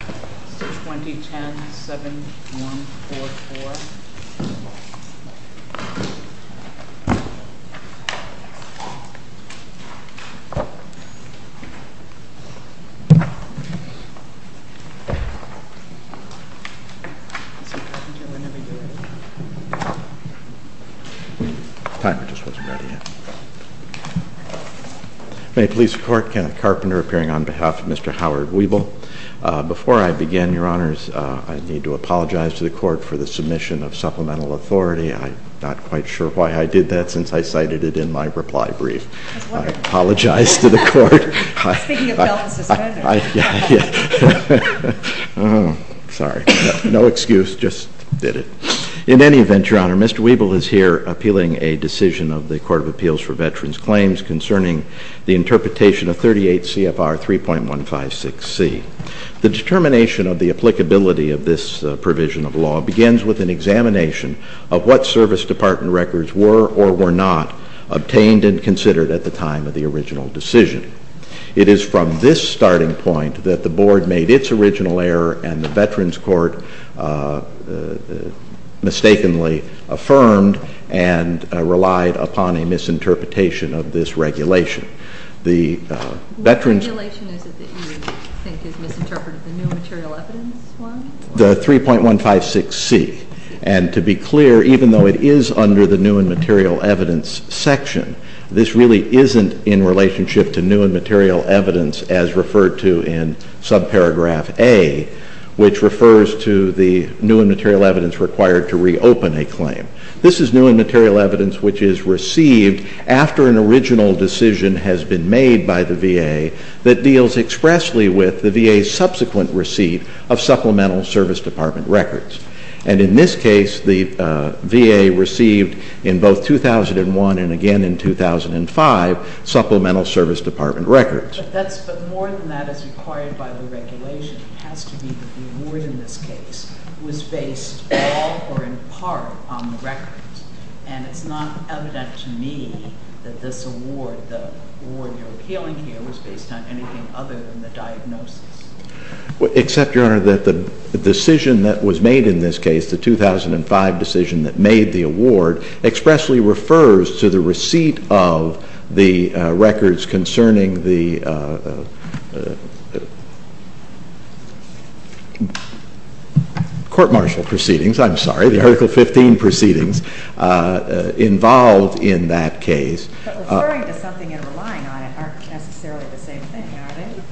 620-107-144 May I please report Kenneth Carpenter appearing on behalf of Mr. Howard WIBLE Before I begin, your honors, I need to apologize to the court for the submission of supplemental authority. I'm not quite sure why I did that since I cited it in my reply brief. I apologize to the court. Speaking of bail and suspensions. Yeah, yeah. Sorry. No excuse, just did it. In any event, your honor, Mr. WIBLE is here appealing a decision of the Court of Appeals for The determination of the applicability of this provision of law begins with an examination of what service department records were or were not obtained and considered at the time of the original decision. It is from this starting point that the board made its original error and the veterans court mistakenly affirmed and relied upon a misinterpretation of this regulation. The veterans- What regulation is it that you think is misinterpreted, the new and material evidence one? The 3.156C. And to be clear, even though it is under the new and material evidence section, this really isn't in relationship to new and material evidence as referred to in subparagraph A, which refers to the new and material evidence required to reopen a claim. This is new and material evidence which is received after an original decision has been made by the VA that deals expressly with the VA's subsequent receipt of supplemental service department records. And in this case, the VA received in both 2001 and again in 2005 supplemental service department records. But more than that is required by the regulation. It has to be that the award in this case was based all or in part on the records. And it's not evident to me that this award, the award you're appealing here, was based on anything other than the diagnosis. Except, Your Honor, that the decision that was made in this case, the 2005 decision that made the award, expressly refers to the receipt of the records concerning the court-martial proceedings. I'm sorry, the Article 15 proceedings involved in that case. But referring to something and relying on it aren't necessarily the same thing, are they?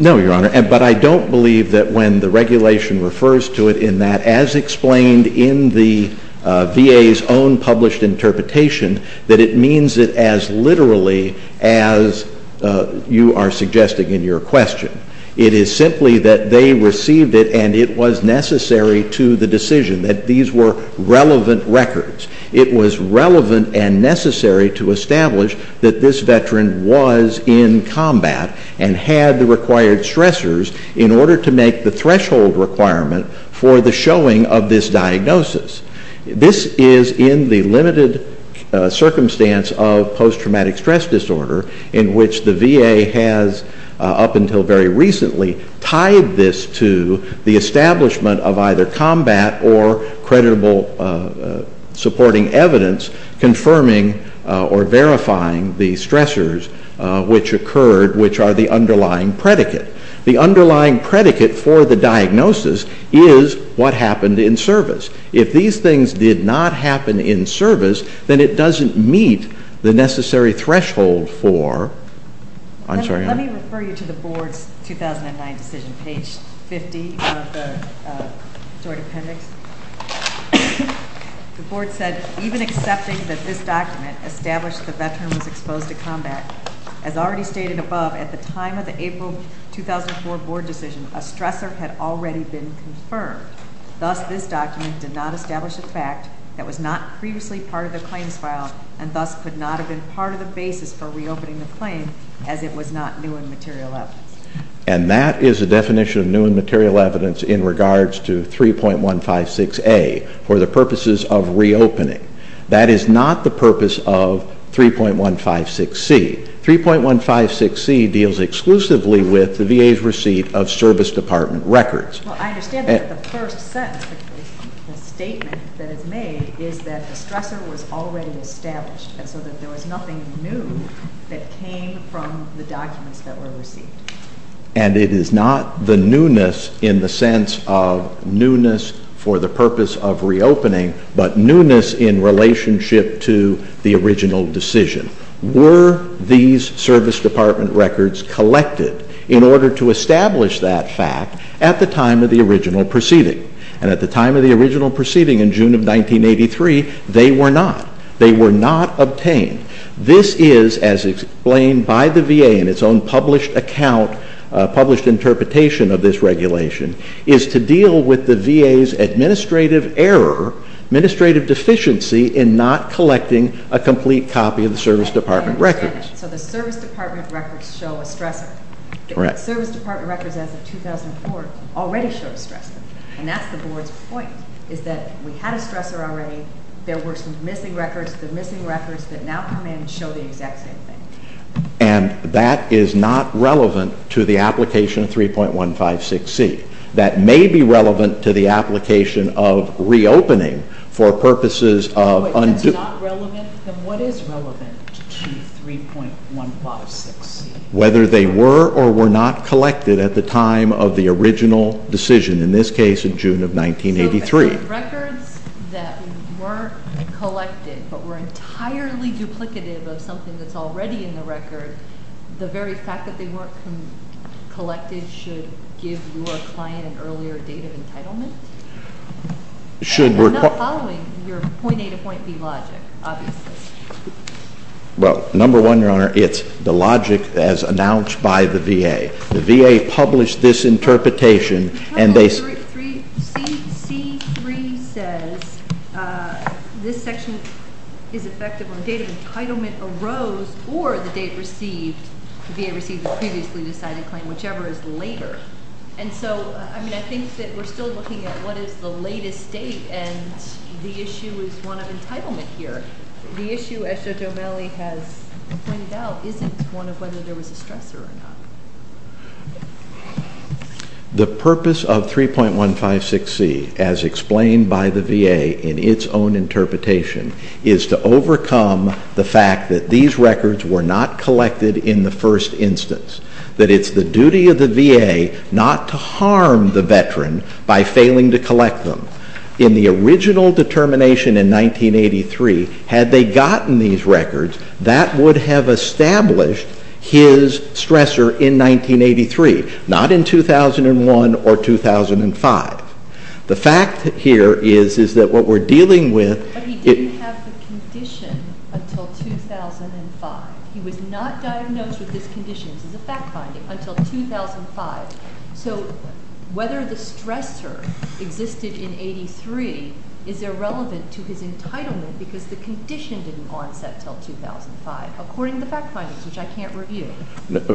No, Your Honor, but I don't believe that when the regulation refers to it in that, as explained in the VA's own published interpretation, that it means it as literally as you are suggesting in your question. It is simply that they received it and it was necessary to the decision that these were relevant records. It was relevant and necessary to establish that this veteran was in combat and had the required stressors in order to make the threshold requirement for the showing of this diagnosis. This is in the limited circumstance of post-traumatic stress disorder, in which the VA has, up until very recently, tied this to the establishment of either combat or creditable supporting evidence confirming or verifying the stressors which occurred, which are the underlying predicate. The underlying predicate for the diagnosis is what happened in service. If these things did not happen in service, then it doesn't meet the necessary threshold for, I'm sorry, I'm- Let me refer you to the board's 2009 decision, page 50 of the joint appendix. The board said, even accepting that this document established the veteran was exposed to combat, as already stated above, at the time of the April 2004 board decision, a stressor had already been confirmed. Thus, this document did not establish a fact that was not previously part of the claims file, and thus could not have been part of the basis for reopening the claim, as it was not new and material evidence. And that is a definition of new and material evidence in regards to 3.156A, for the purposes of reopening. That is not the purpose of 3.156C. 3.156C deals exclusively with the VA's receipt of service department records. Well, I understand that the first sentence, the statement that is made, is that the stressor was already established, and so that there was nothing new that came from the documents that were received. And it is not the newness in the sense of newness for the purpose of reopening, but newness in relationship to the original decision. Were these service department records collected in order to establish that fact at the time of the original proceeding, and at the time of the original proceeding in June of 1983, they were not. They were not obtained. This is, as explained by the VA in its own published account, published interpretation of this regulation, is to deal with the VA's administrative error, administrative deficiency, in not collecting a complete copy of the service department records. So the service department records show a stressor. The service department records as of 2004 already show a stressor. And that's the board's point, is that we had a stressor already. There were some missing records. The missing records that now come in show the exact same thing. And that is not relevant to the application 3.156C. That may be relevant to the application of reopening for purposes of- If that's not relevant, then what is relevant to 3.156C? Whether they were or were not collected at the time of the original decision, in this case in June of 1983. So the records that were collected, but were entirely duplicative of something that's already in the record, the very fact that they weren't collected should give your client an earlier date of entitlement? Should we're- I'm not following your point A to point B logic, obviously. Well, number one, your honor, it's the logic as announced by the VA. The VA published this interpretation and they- C3 says this section is effective on the date of entitlement arose or the date received, the VA received the previously decided claim, whichever is later. And so, I mean, I think that we're still looking at what is the latest date, and the issue is one of entitlement here. The issue, as Judge O'Malley has pointed out, isn't one of whether there was a stressor or not. The purpose of 3.156C, as explained by the VA in its own interpretation, is to overcome the fact that these records were not collected in the first instance. That it's the duty of the VA not to harm the veteran by failing to collect them. In the original determination in 1983, had they gotten these records, that would have established his stressor in 1983, not in 2001 or 2005. The fact here is, is that what we're dealing with- But he didn't have the condition until 2005. He was not diagnosed with this condition, this is a fact finding, until 2005. So whether the stressor existed in 83 is irrelevant to his entitlement, because the condition didn't onset until 2005, according to the fact findings, which I can't review.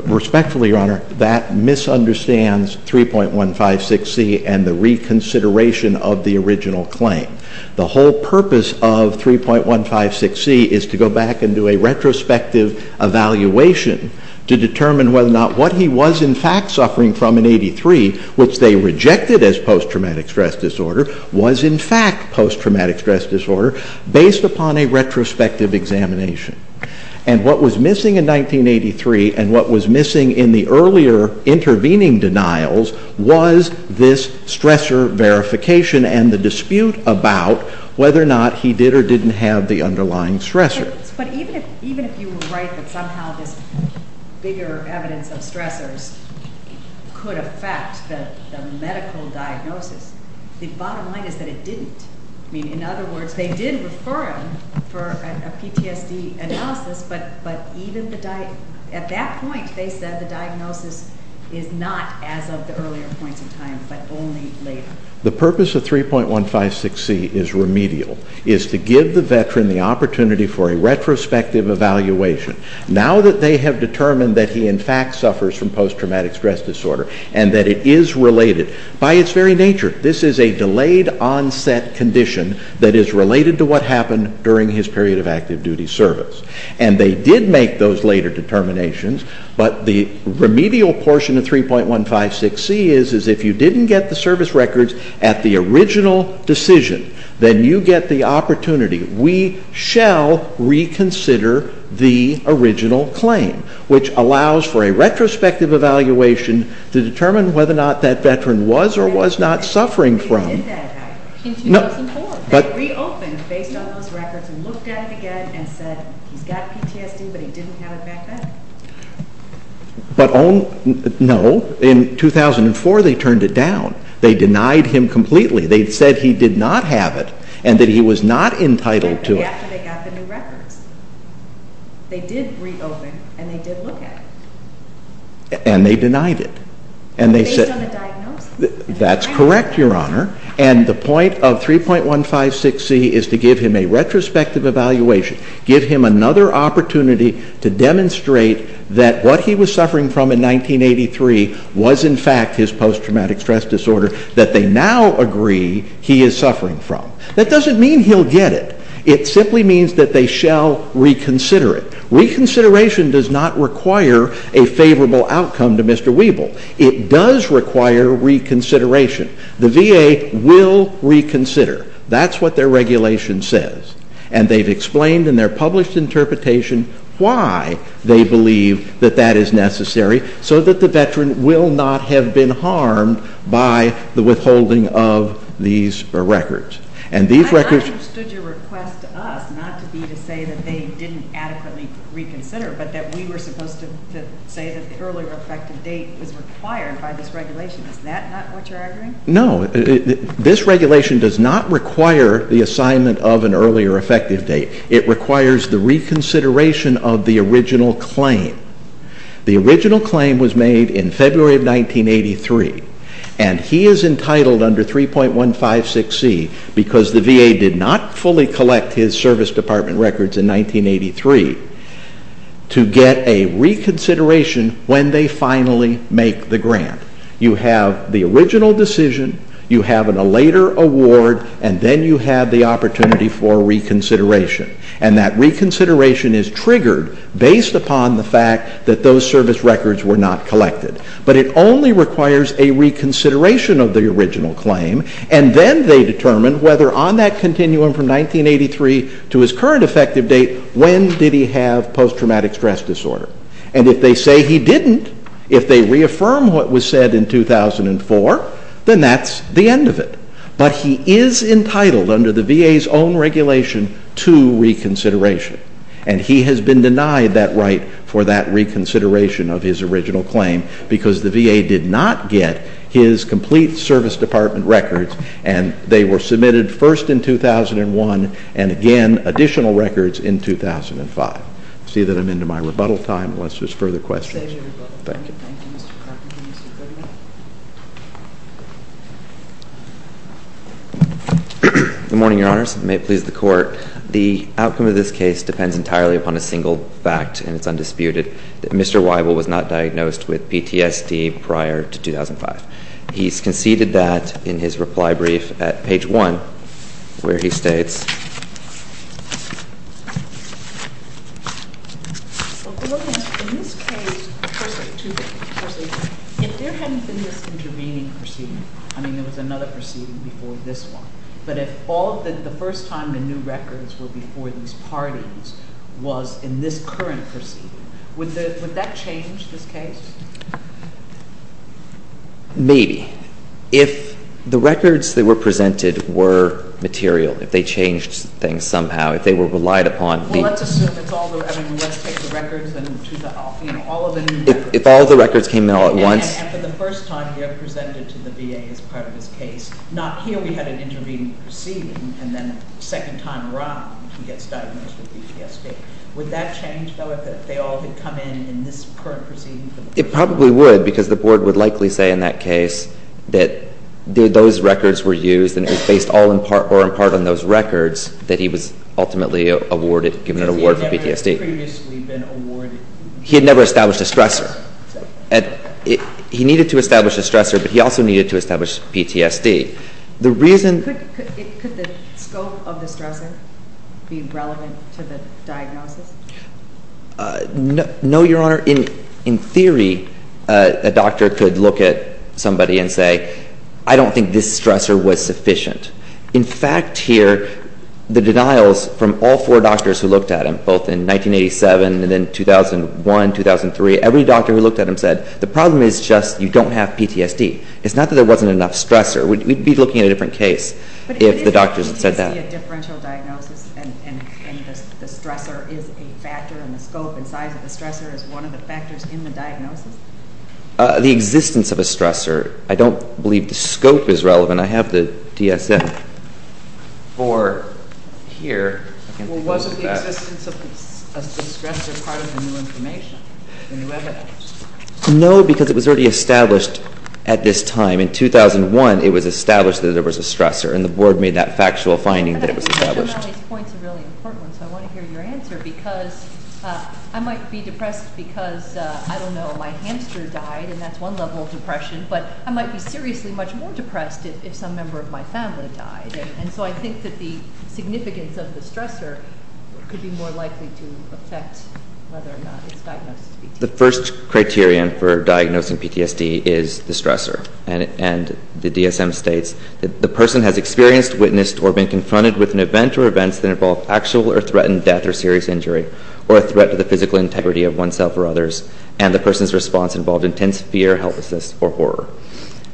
Respectfully, Your Honor, that misunderstands 3.156C and the reconsideration of the original claim. The whole purpose of 3.156C is to go back and do a retrospective evaluation to determine whether or not what he was in fact suffering from in 83, which they rejected as post-traumatic stress disorder, was in fact post-traumatic stress disorder, based upon a retrospective examination. And what was missing in 1983 and what was missing in the earlier intervening denials was this stressor verification and the dispute about whether or not he did or didn't have the underlying stressor. But even if you were right that somehow this bigger evidence of stressors could affect the medical diagnosis, the bottom line is that it didn't. I mean, in other words, they did refer him for a PTSD analysis, but at that point they said the diagnosis is not as of the earlier points in time, but only later. The purpose of 3.156C is remedial, is to give the veteran the opportunity for a retrospective evaluation. Now that they have determined that he in fact suffers from post-traumatic stress disorder and that it is related by its very nature, this is a delayed onset condition that is related to what happened during his period of active duty service. And they did make those later determinations, but the remedial portion of 3.156C is, is if you didn't get the service records at the original decision, then you get the opportunity. We shall reconsider the original claim, which allows for a retrospective evaluation to determine whether or not that veteran was or was not suffering from- He's got PTSD, but he didn't have it back then? But, no, in 2004 they turned it down. They denied him completely. They said he did not have it, and that he was not entitled to it. After they got the new records, they did reopen, and they did look at it. And they denied it. And they said- Based on the diagnosis? That's correct, Your Honor. And the point of 3.156C is to give him a retrospective evaluation, give him another opportunity to demonstrate that what he was suffering from in 1983 was in fact his post-traumatic stress disorder that they now agree he is suffering from. That doesn't mean he'll get it. It simply means that they shall reconsider it. Reconsideration does not require a favorable outcome to Mr. Wiebel. It does require reconsideration. The VA will reconsider. That's what their regulation says. And they've explained in their published interpretation why they believe that that is necessary, so that the veteran will not have been harmed by the withholding of these records. And these records- I understood your request to us not to be to say that they didn't adequately reconsider, but that we were supposed to say that the earlier effective date is required by this regulation. Is that not what you're arguing? No, this regulation does not require the assignment of an earlier effective date. It requires the reconsideration of the original claim. The original claim was made in February of 1983. And he is entitled under 3.156C, because the VA did not fully collect his service department records in 1983, to get a reconsideration when they finally make the grant. You have the original decision, you have a later award, and then you have the opportunity for reconsideration. And that reconsideration is triggered based upon the fact that those service records were not collected. But it only requires a reconsideration of the original claim. And then they determine whether on that continuum from 1983 to his current effective date, when did he have post-traumatic stress disorder. And if they say he didn't, if they reaffirm what was said in 2004, then that's the end of it. But he is entitled under the VA's own regulation to reconsideration. And he has been denied that right for that reconsideration of his original claim, because the VA did not get his complete service department records. And they were submitted first in 2001, and again, additional records in 2005. See that I'm into my rebuttal time, unless there's further questions. Thank you. Thank you, Mr. Crockett. Mr. Goodman. Good morning, your honors. May it please the court. The outcome of this case depends entirely upon a single fact, and it's undisputed, that Mr. Weibel was not diagnosed with PTSD prior to 2005. He's conceded that in his reply brief at page one, where he states, In this case, if there hadn't been this intervening proceeding, I mean there was another proceeding before this one. But if the first time the new records were before these parties was in this current proceeding, would that change this case? Maybe. If the records that were presented were material, if they changed things somehow, if they were relied upon. Well, let's assume it's all, I mean, let's take the records and choose all of them. If all of the records came in all at once. And for the first time, they're presented to the VA as part of this case. Not here we had an intervening proceeding, and then second time around, he gets diagnosed with PTSD. Would that change, though, if they all had come in in this current proceeding? It probably would, because the board would likely say in that case that those records were used, and it was based all in part or in part on those records that he was ultimately awarded, given an award for PTSD. Because he had never previously been awarded. He had never established a stressor. He needed to establish a stressor, but he also needed to establish PTSD. The reason. Could the scope of the stressor be relevant to the diagnosis? No, Your Honor. In theory, a doctor could look at somebody and say, I don't think this stressor was sufficient. In fact, here, the denials from all four doctors who looked at him, both in 1987 and then 2001, 2003, every doctor who looked at him said, the problem is just you don't have PTSD. It's not that there wasn't enough stressor. We'd be looking at a different case if the doctors had said that. Could it be a differential diagnosis, and the stressor is a factor, and the scope and size of the stressor is one of the factors in the diagnosis? The existence of a stressor. I don't believe the scope is relevant. I have the DSM-IV here. Well, wasn't the existence of the stressor part of the new information, the new evidence? No, because it was already established at this time. In 2001, it was established that there was a stressor, and the board made that factual finding that it was established. I think these points are really important, so I want to hear your answer, because I might be depressed because, I don't know, my hamster died, and that's one level of depression, but I might be seriously much more depressed if some member of my family died, and so I think that the significance of the stressor could be more likely to affect whether or not it's diagnosed as PTSD. The first criterion for diagnosing PTSD is the stressor, and the DSM states that the person has experienced, witnessed, or been confronted with an event or events that involve factual or threatened death or serious injury or a threat to the physical integrity of oneself or others, and the person's response involved intense fear, helplessness, or horror.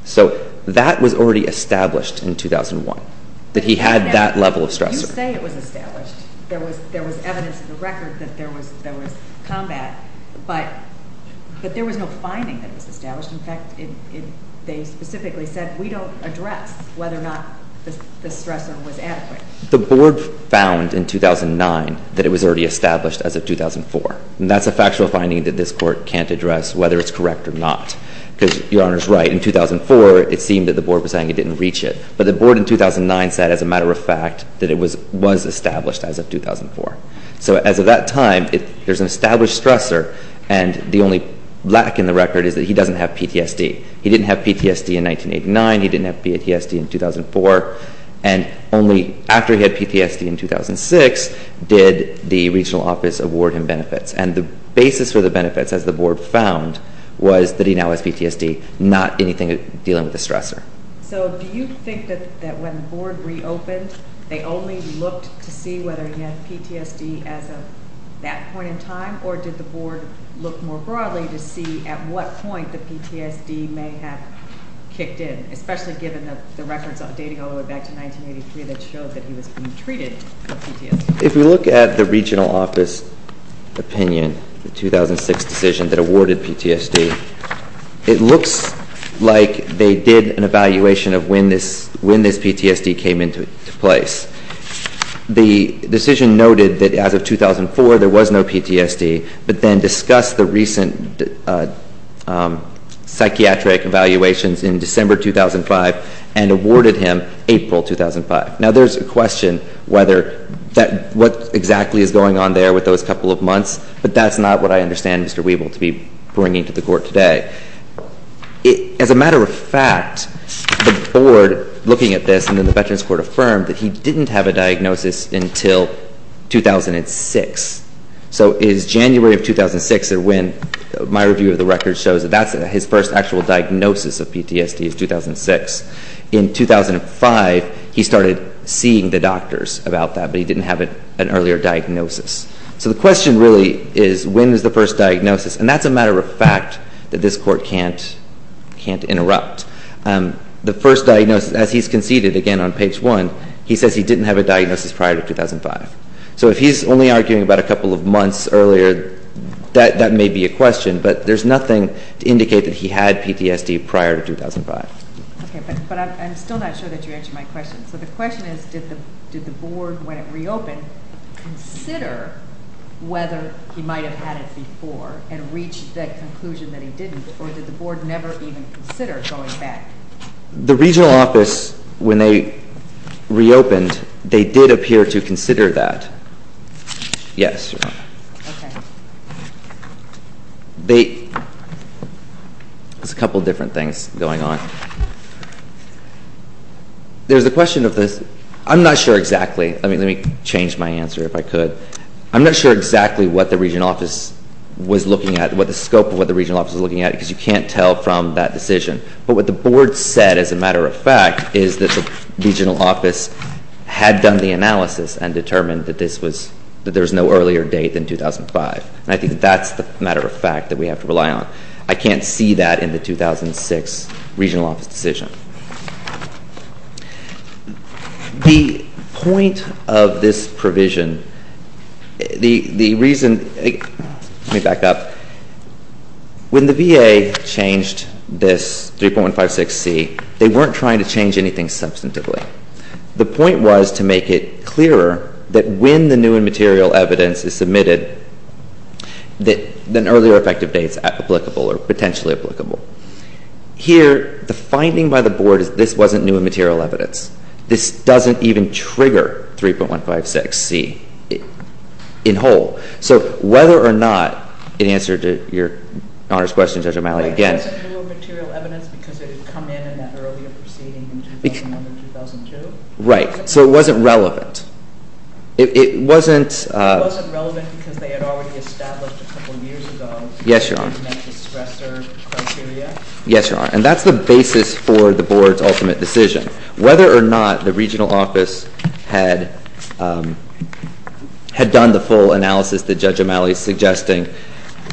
So that was already established in 2001, that he had that level of stressor. You say it was established. There was evidence in the record that there was combat, but there was no finding that it was established. In fact, they specifically said, we don't address whether or not the stressor was adequate. The Board found in 2009 that it was already established as of 2004, and that's a factual finding that this Court can't address whether it's correct or not, because Your Honor's right, in 2004, it seemed that the Board was saying it didn't reach it, but the Board in 2009 said, as a matter of fact, that it was established as of 2004. So as of that time, there's an established stressor, and the only lack in the record is that he doesn't have PTSD. He didn't have PTSD in 1989. He didn't have PTSD in 2004. And only after he had PTSD in 2006 did the Regional Office award him benefits, and the basis for the benefits, as the Board found, was that he now has PTSD, not anything dealing with the stressor. So do you think that when the Board reopened, they only looked to see whether he had PTSD as of that point in time, or did the Board look more broadly to see at what point the PTSD may have kicked in, especially given the records dating all the way back to 1983 that showed that he was being treated for PTSD? If you look at the Regional Office opinion, the 2006 decision that awarded PTSD, it looks like they did an evaluation of when this PTSD came into place. The decision noted that as of 2004, there was no PTSD, but then discussed the recent psychiatric evaluations in December 2005, and awarded him April 2005. Now, there's a question what exactly is going on there with those couple of months, but that's not what I understand Mr. Wiebel to be bringing to the Court today. As a matter of fact, the Board, looking at this, found that the Veterans Court affirmed that he didn't have a diagnosis until 2006. So is January of 2006 when my review of the record shows that that's his first actual diagnosis of PTSD is 2006. In 2005, he started seeing the doctors about that, but he didn't have an earlier diagnosis. So the question really is when is the first diagnosis, and that's a matter of fact that this Court can't interrupt. The first diagnosis, as he's conceded again on page 1, he says he didn't have a diagnosis prior to 2005. So if he's only arguing about a couple of months earlier, that may be a question, but there's nothing to indicate that he had PTSD prior to 2005. Okay, but I'm still not sure that you answered my question. So the question is did the Board, when it reopened, consider whether he might have had it before and reached that conclusion that he didn't, or did the Board never even consider going back? The Regional Office, when they reopened, they did appear to consider that. Yes. Okay. There's a couple of different things going on. There's a question of this. I'm not sure exactly. Let me change my answer if I could. I'm not sure exactly what the Regional Office was looking at, because you can't tell from that decision. But what the Board said, as a matter of fact, is that the Regional Office had done the analysis and determined that there's no earlier date than 2005. And I think that that's the matter of fact that we have to rely on. I can't see that in the 2006 Regional Office decision. The point of this provision, the reason—let me back up. When the VA changed this 3.156c, they weren't trying to change anything substantively. The point was to make it clearer that when the new and material evidence is submitted, that an earlier effective date is applicable or potentially applicable. Here, the finding by the Board is this wasn't new and material evidence. This doesn't even trigger 3.156c in whole. So whether or not, in answer to Your Honor's question, Judge O'Malley, again— It wasn't new and material evidence because it had come in in that earlier proceeding in 2001 and 2002? Right. So it wasn't relevant. It wasn't— It wasn't relevant because they had already established a couple of years ago— Yes, Your Honor. Yes, Your Honor. And that's the basis for the Board's ultimate decision. Whether or not the Regional Office had done the full analysis that Judge O'Malley is suggesting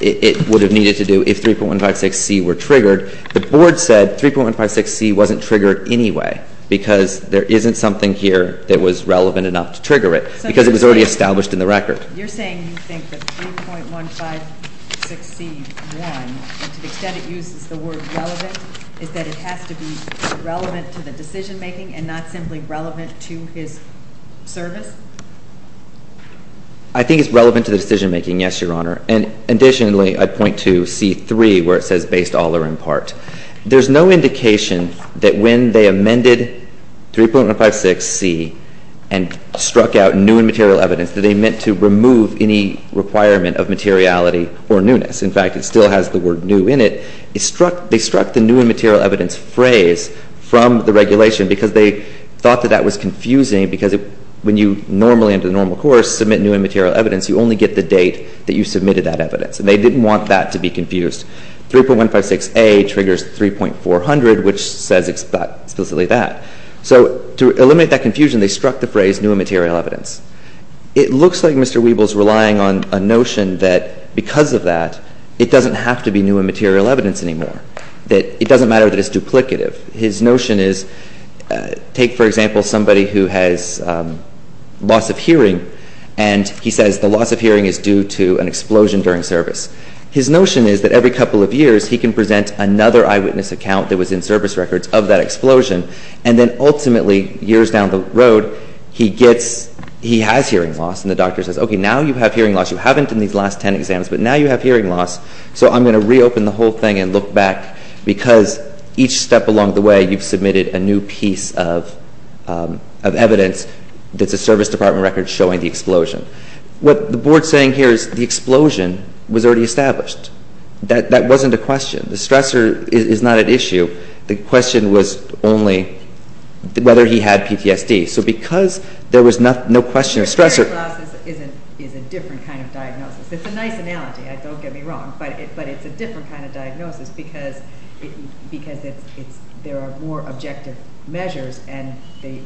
it would have needed to do if 3.156c were triggered, the Board said 3.156c wasn't triggered anyway because there isn't something here that was relevant enough to trigger it because it was already established in the record. You're saying you think that 3.156c.1, to the extent it uses the word relevant, is that it has to be relevant to the decision-making and not simply relevant to his service? I think it's relevant to the decision-making, yes, Your Honor. And additionally, I'd point to c.3 where it says based all or in part. There's no indication that when they amended 3.156c and struck out new and material evidence that they meant to remove any requirement of materiality or newness. In fact, it still has the word new in it. They struck the new and material evidence phrase from the regulation because they thought that that was confusing because when you normally, under the normal course, submit new and material evidence, you only get the date that you submitted that evidence. And they didn't want that to be confused. 3.156a triggers 3.400, which says explicitly that. So to eliminate that confusion, they struck the phrase new and material evidence. It looks like Mr. Wiebel is relying on a notion that because of that, it doesn't have to be new and material evidence anymore, that it doesn't matter that it's duplicative. His notion is take, for example, somebody who has loss of hearing, and he says the loss of hearing is due to an explosion during service. His notion is that every couple of years he can present another eyewitness account that was in service records of that explosion, and then ultimately, years down the road, he has hearing loss, and the doctor says, okay, now you have hearing loss. You haven't in these last ten exams, but now you have hearing loss, so I'm going to reopen the whole thing and look back because each step along the way you've submitted a new piece of evidence that's a service department record showing the explosion. What the Board is saying here is the explosion was already established. That wasn't a question. The stressor is not at issue. The question was only whether he had PTSD. So because there was no question or stressor. Hearing loss is a different kind of diagnosis. It's a nice analogy, don't get me wrong, but it's a different kind of diagnosis because there are more objective measures, and the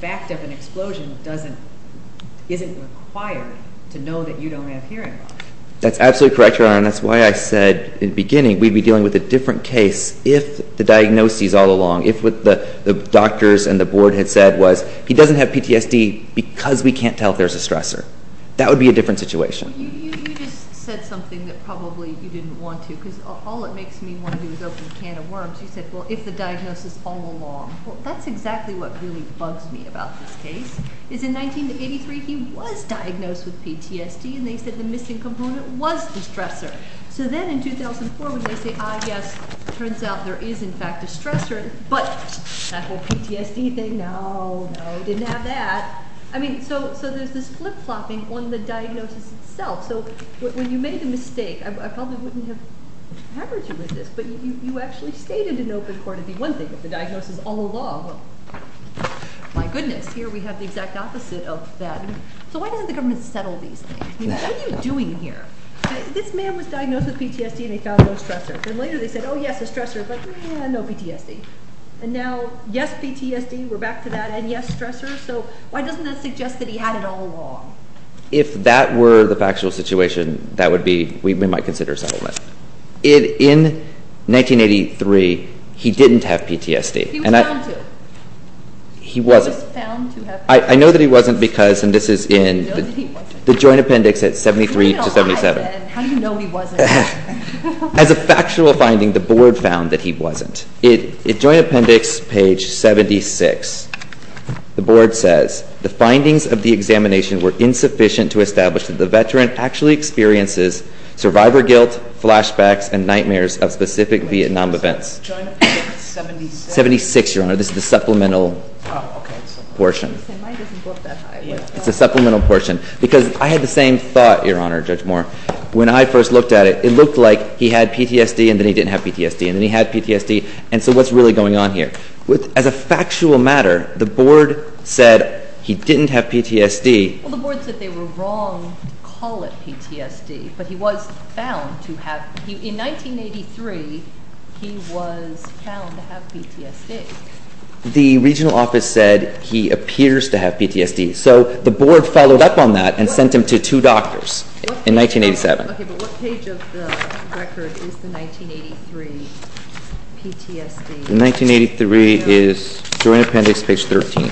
fact of an explosion isn't required to know that you don't have hearing loss. That's absolutely correct, Your Honor, and that's why I said in the beginning we'd be dealing with a different case if the diagnosis all along, if what the doctors and the Board had said was he doesn't have PTSD because we can't tell if there's a stressor. That would be a different situation. You just said something that probably you didn't want to because all it makes me want to do is open a can of worms. You said, well, if the diagnosis all along. Well, that's exactly what really bugs me about this case is in 1983 he was diagnosed with PTSD, and they said the missing component was the stressor. So then in 2004 when they say, ah, yes, it turns out there is in fact a stressor, but that whole PTSD thing, no, no, didn't have that. So there's this flip-flopping on the diagnosis itself. So when you made the mistake, I probably wouldn't have covered you with this, but you actually stated in open court it'd be one thing if the diagnosis all along. Well, my goodness, here we have the exact opposite of that. So why doesn't the government settle these things? What are you doing here? This man was diagnosed with PTSD, and he found no stressor. Then later they said, oh, yes, a stressor, but no PTSD. And now, yes, PTSD, we're back to that, and yes, stressor. So why doesn't that suggest that he had it all along? If that were the factual situation, that would be, we might consider settlement. In 1983, he didn't have PTSD. He was found to. He wasn't. He was found to have PTSD. I know that he wasn't because, and this is in the joint appendix at 73 to 77. How do you know he wasn't? As a factual finding, the Board found that he wasn't. In joint appendix page 76, the Board says, the findings of the examination were insufficient to establish that the veteran actually experiences survivor guilt, flashbacks, and nightmares of specific Vietnam events. Joint appendix 76. 76, Your Honor. This is the supplemental portion. Mine doesn't go up that high. It's the supplemental portion. Because I had the same thought, Your Honor, Judge Moore. When I first looked at it, it looked like he had PTSD and then he didn't have PTSD, and then he had PTSD, and so what's really going on here? As a factual matter, the Board said he didn't have PTSD. Well, the Board said they were wrong to call it PTSD, but he was found to have. In 1983, he was found to have PTSD. The regional office said he appears to have PTSD. So the Board followed up on that and sent him to two doctors in 1987. Okay, but what page of the record is the 1983 PTSD? The 1983 is joint appendix page 13.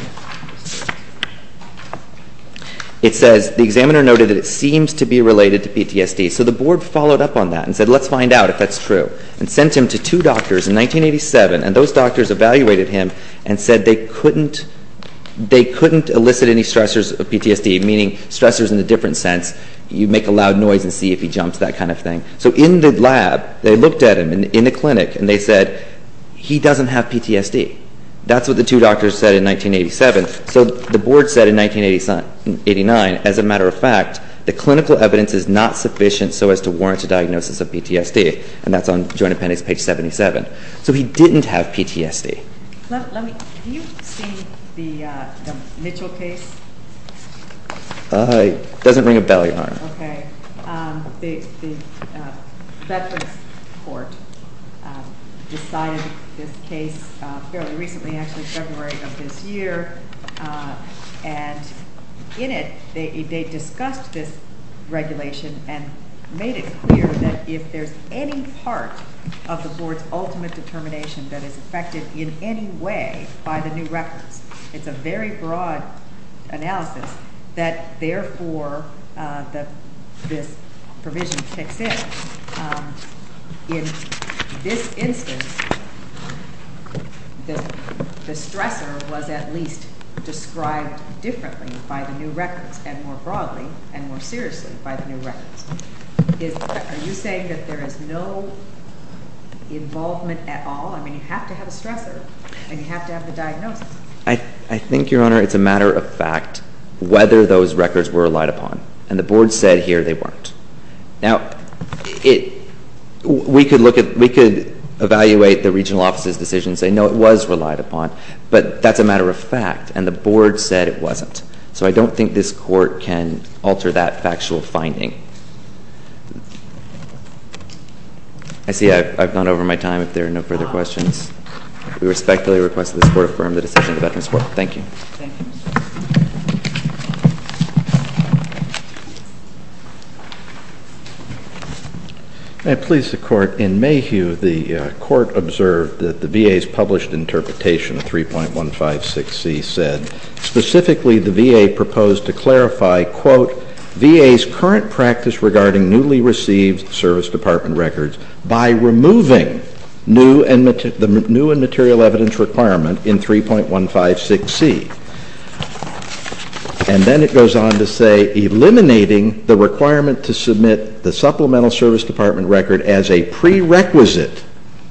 It says, the examiner noted that it seems to be related to PTSD. So the Board followed up on that and said, let's find out if that's true, and sent him to two doctors in 1987, and those doctors evaluated him and said they couldn't elicit any stressors of PTSD, meaning stressors in a different sense. You make a loud noise and see if he jumps, that kind of thing. So in the lab, they looked at him in the clinic, and they said, he doesn't have PTSD. That's what the two doctors said in 1987. So the Board said in 1989, as a matter of fact, the clinical evidence is not sufficient so as to warrant a diagnosis of PTSD, and that's on joint appendix page 77. So he didn't have PTSD. Have you seen the Mitchell case? It doesn't ring a bell, Your Honor. Okay. The Veterans Court decided this case fairly recently, actually February of this year, and in it, they discussed this regulation and made it clear that if there's any part of the Board's ultimate determination that is affected in any way by the new records, it's a very broad analysis that, therefore, this provision kicks in. In this instance, the stressor was at least described differently by the new records and more broadly and more seriously by the new records. Are you saying that there is no involvement at all? I mean, you have to have a stressor, and you have to have the diagnosis. I think, Your Honor, it's a matter of fact whether those records were relied upon, and the Board said here they weren't. Now, we could evaluate the regional office's decision and say, no, it was relied upon, but that's a matter of fact, and the Board said it wasn't. So I don't think this Court can alter that factual finding. I see I've gone over my time, if there are no further questions. We respectfully request that this Court affirm the decision of the Veterans Court. Thank you. May I please the Court? In Mayhew, the Court observed that the VA's published interpretation of 3.156C said, specifically the VA proposed to clarify, quote, VA's current practice regarding newly received service department records by removing the new and material evidence requirement in 3.156C. And then it goes on to say, eliminating the requirement to submit the supplemental service department record as a prerequisite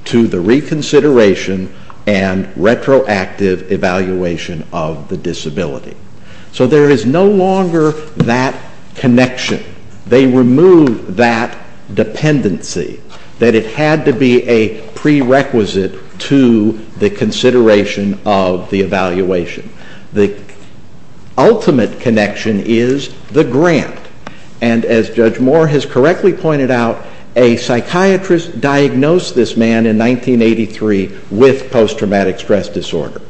to the reconsideration and retroactive evaluation of the disability. So there is no longer that connection. They removed that dependency, that it had to be a prerequisite to the consideration of the evaluation. The ultimate connection is the grant, and as Judge Moore has correctly pointed out, a psychiatrist diagnosed this man in 1983 with post-traumatic stress disorder.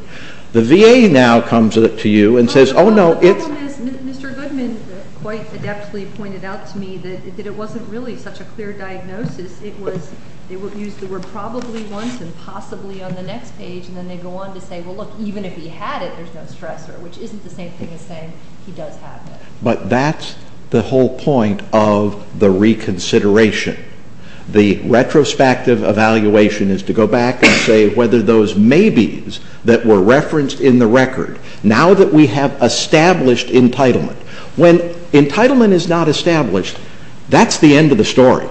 The VA now comes to you and says, oh, no, it's... The problem is Mr. Goodman quite adeptly pointed out to me that it wasn't really such a clear diagnosis. It was, they used the word probably once and possibly on the next page, and then they go on to say, well, look, even if he had it, there's no stressor, which isn't the same thing as saying he does have it. But that's the whole point of the reconsideration. The retrospective evaluation is to go back and say whether those maybes that were referenced in the record, now that we have established entitlement. When entitlement is not established, that's the end of the story.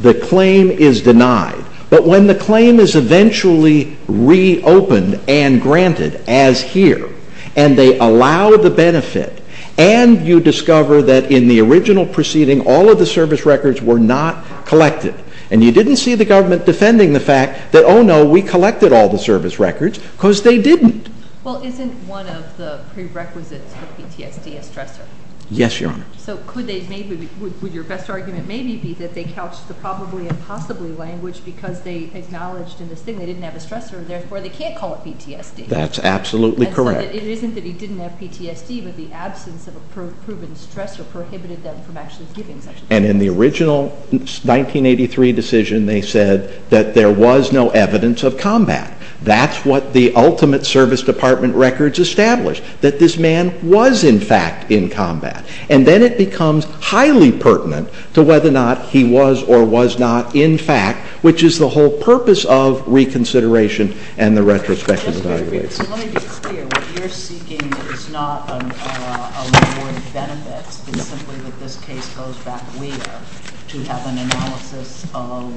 The claim is denied. But when the claim is eventually reopened and granted as here, and they allow the benefit, and you discover that in the original proceeding, all of the service records were not collected, and you didn't see the government defending the fact that, oh, no, we collected all the service records, because they didn't. Well, isn't one of the prerequisites for PTSD a stressor? Yes, Your Honor. So could they maybe... Would your best argument maybe be that they couched the probably and possibly language because they acknowledged in this thing they didn't have a stressor, and therefore they can't call it PTSD? That's absolutely correct. And so it isn't that he didn't have PTSD, but the absence of a proven stressor prohibited them from actually giving such a thing. And in the original 1983 decision, they said that there was no evidence of combat. That's what the ultimate service department records establish, that this man was in fact in combat. And then it becomes highly pertinent to whether or not he was or was not in fact, which is the whole purpose of reconsideration and the retrospective evaluation. Let me be clear. What you're seeking is not a law of benefits. It's simply that this case goes back later to have an analysis of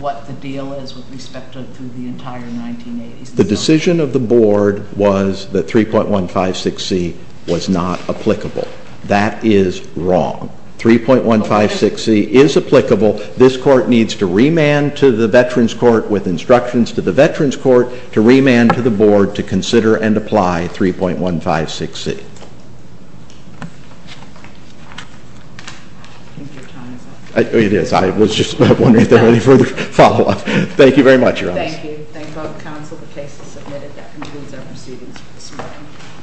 what the deal is with respect to the entire 1980s. The decision of the board was that 3.156C was not applicable. That is wrong. 3.156C is applicable. This court needs to remand to the Veterans Court with instructions to the Veterans Court to remand to the board to consider and apply 3.156C. I think your time is up. It is. I was just wondering if there was any further follow-up. Thank you very much, Your Honor. Thank you. Thank both counsel. The case is submitted. That concludes our proceedings for this morning.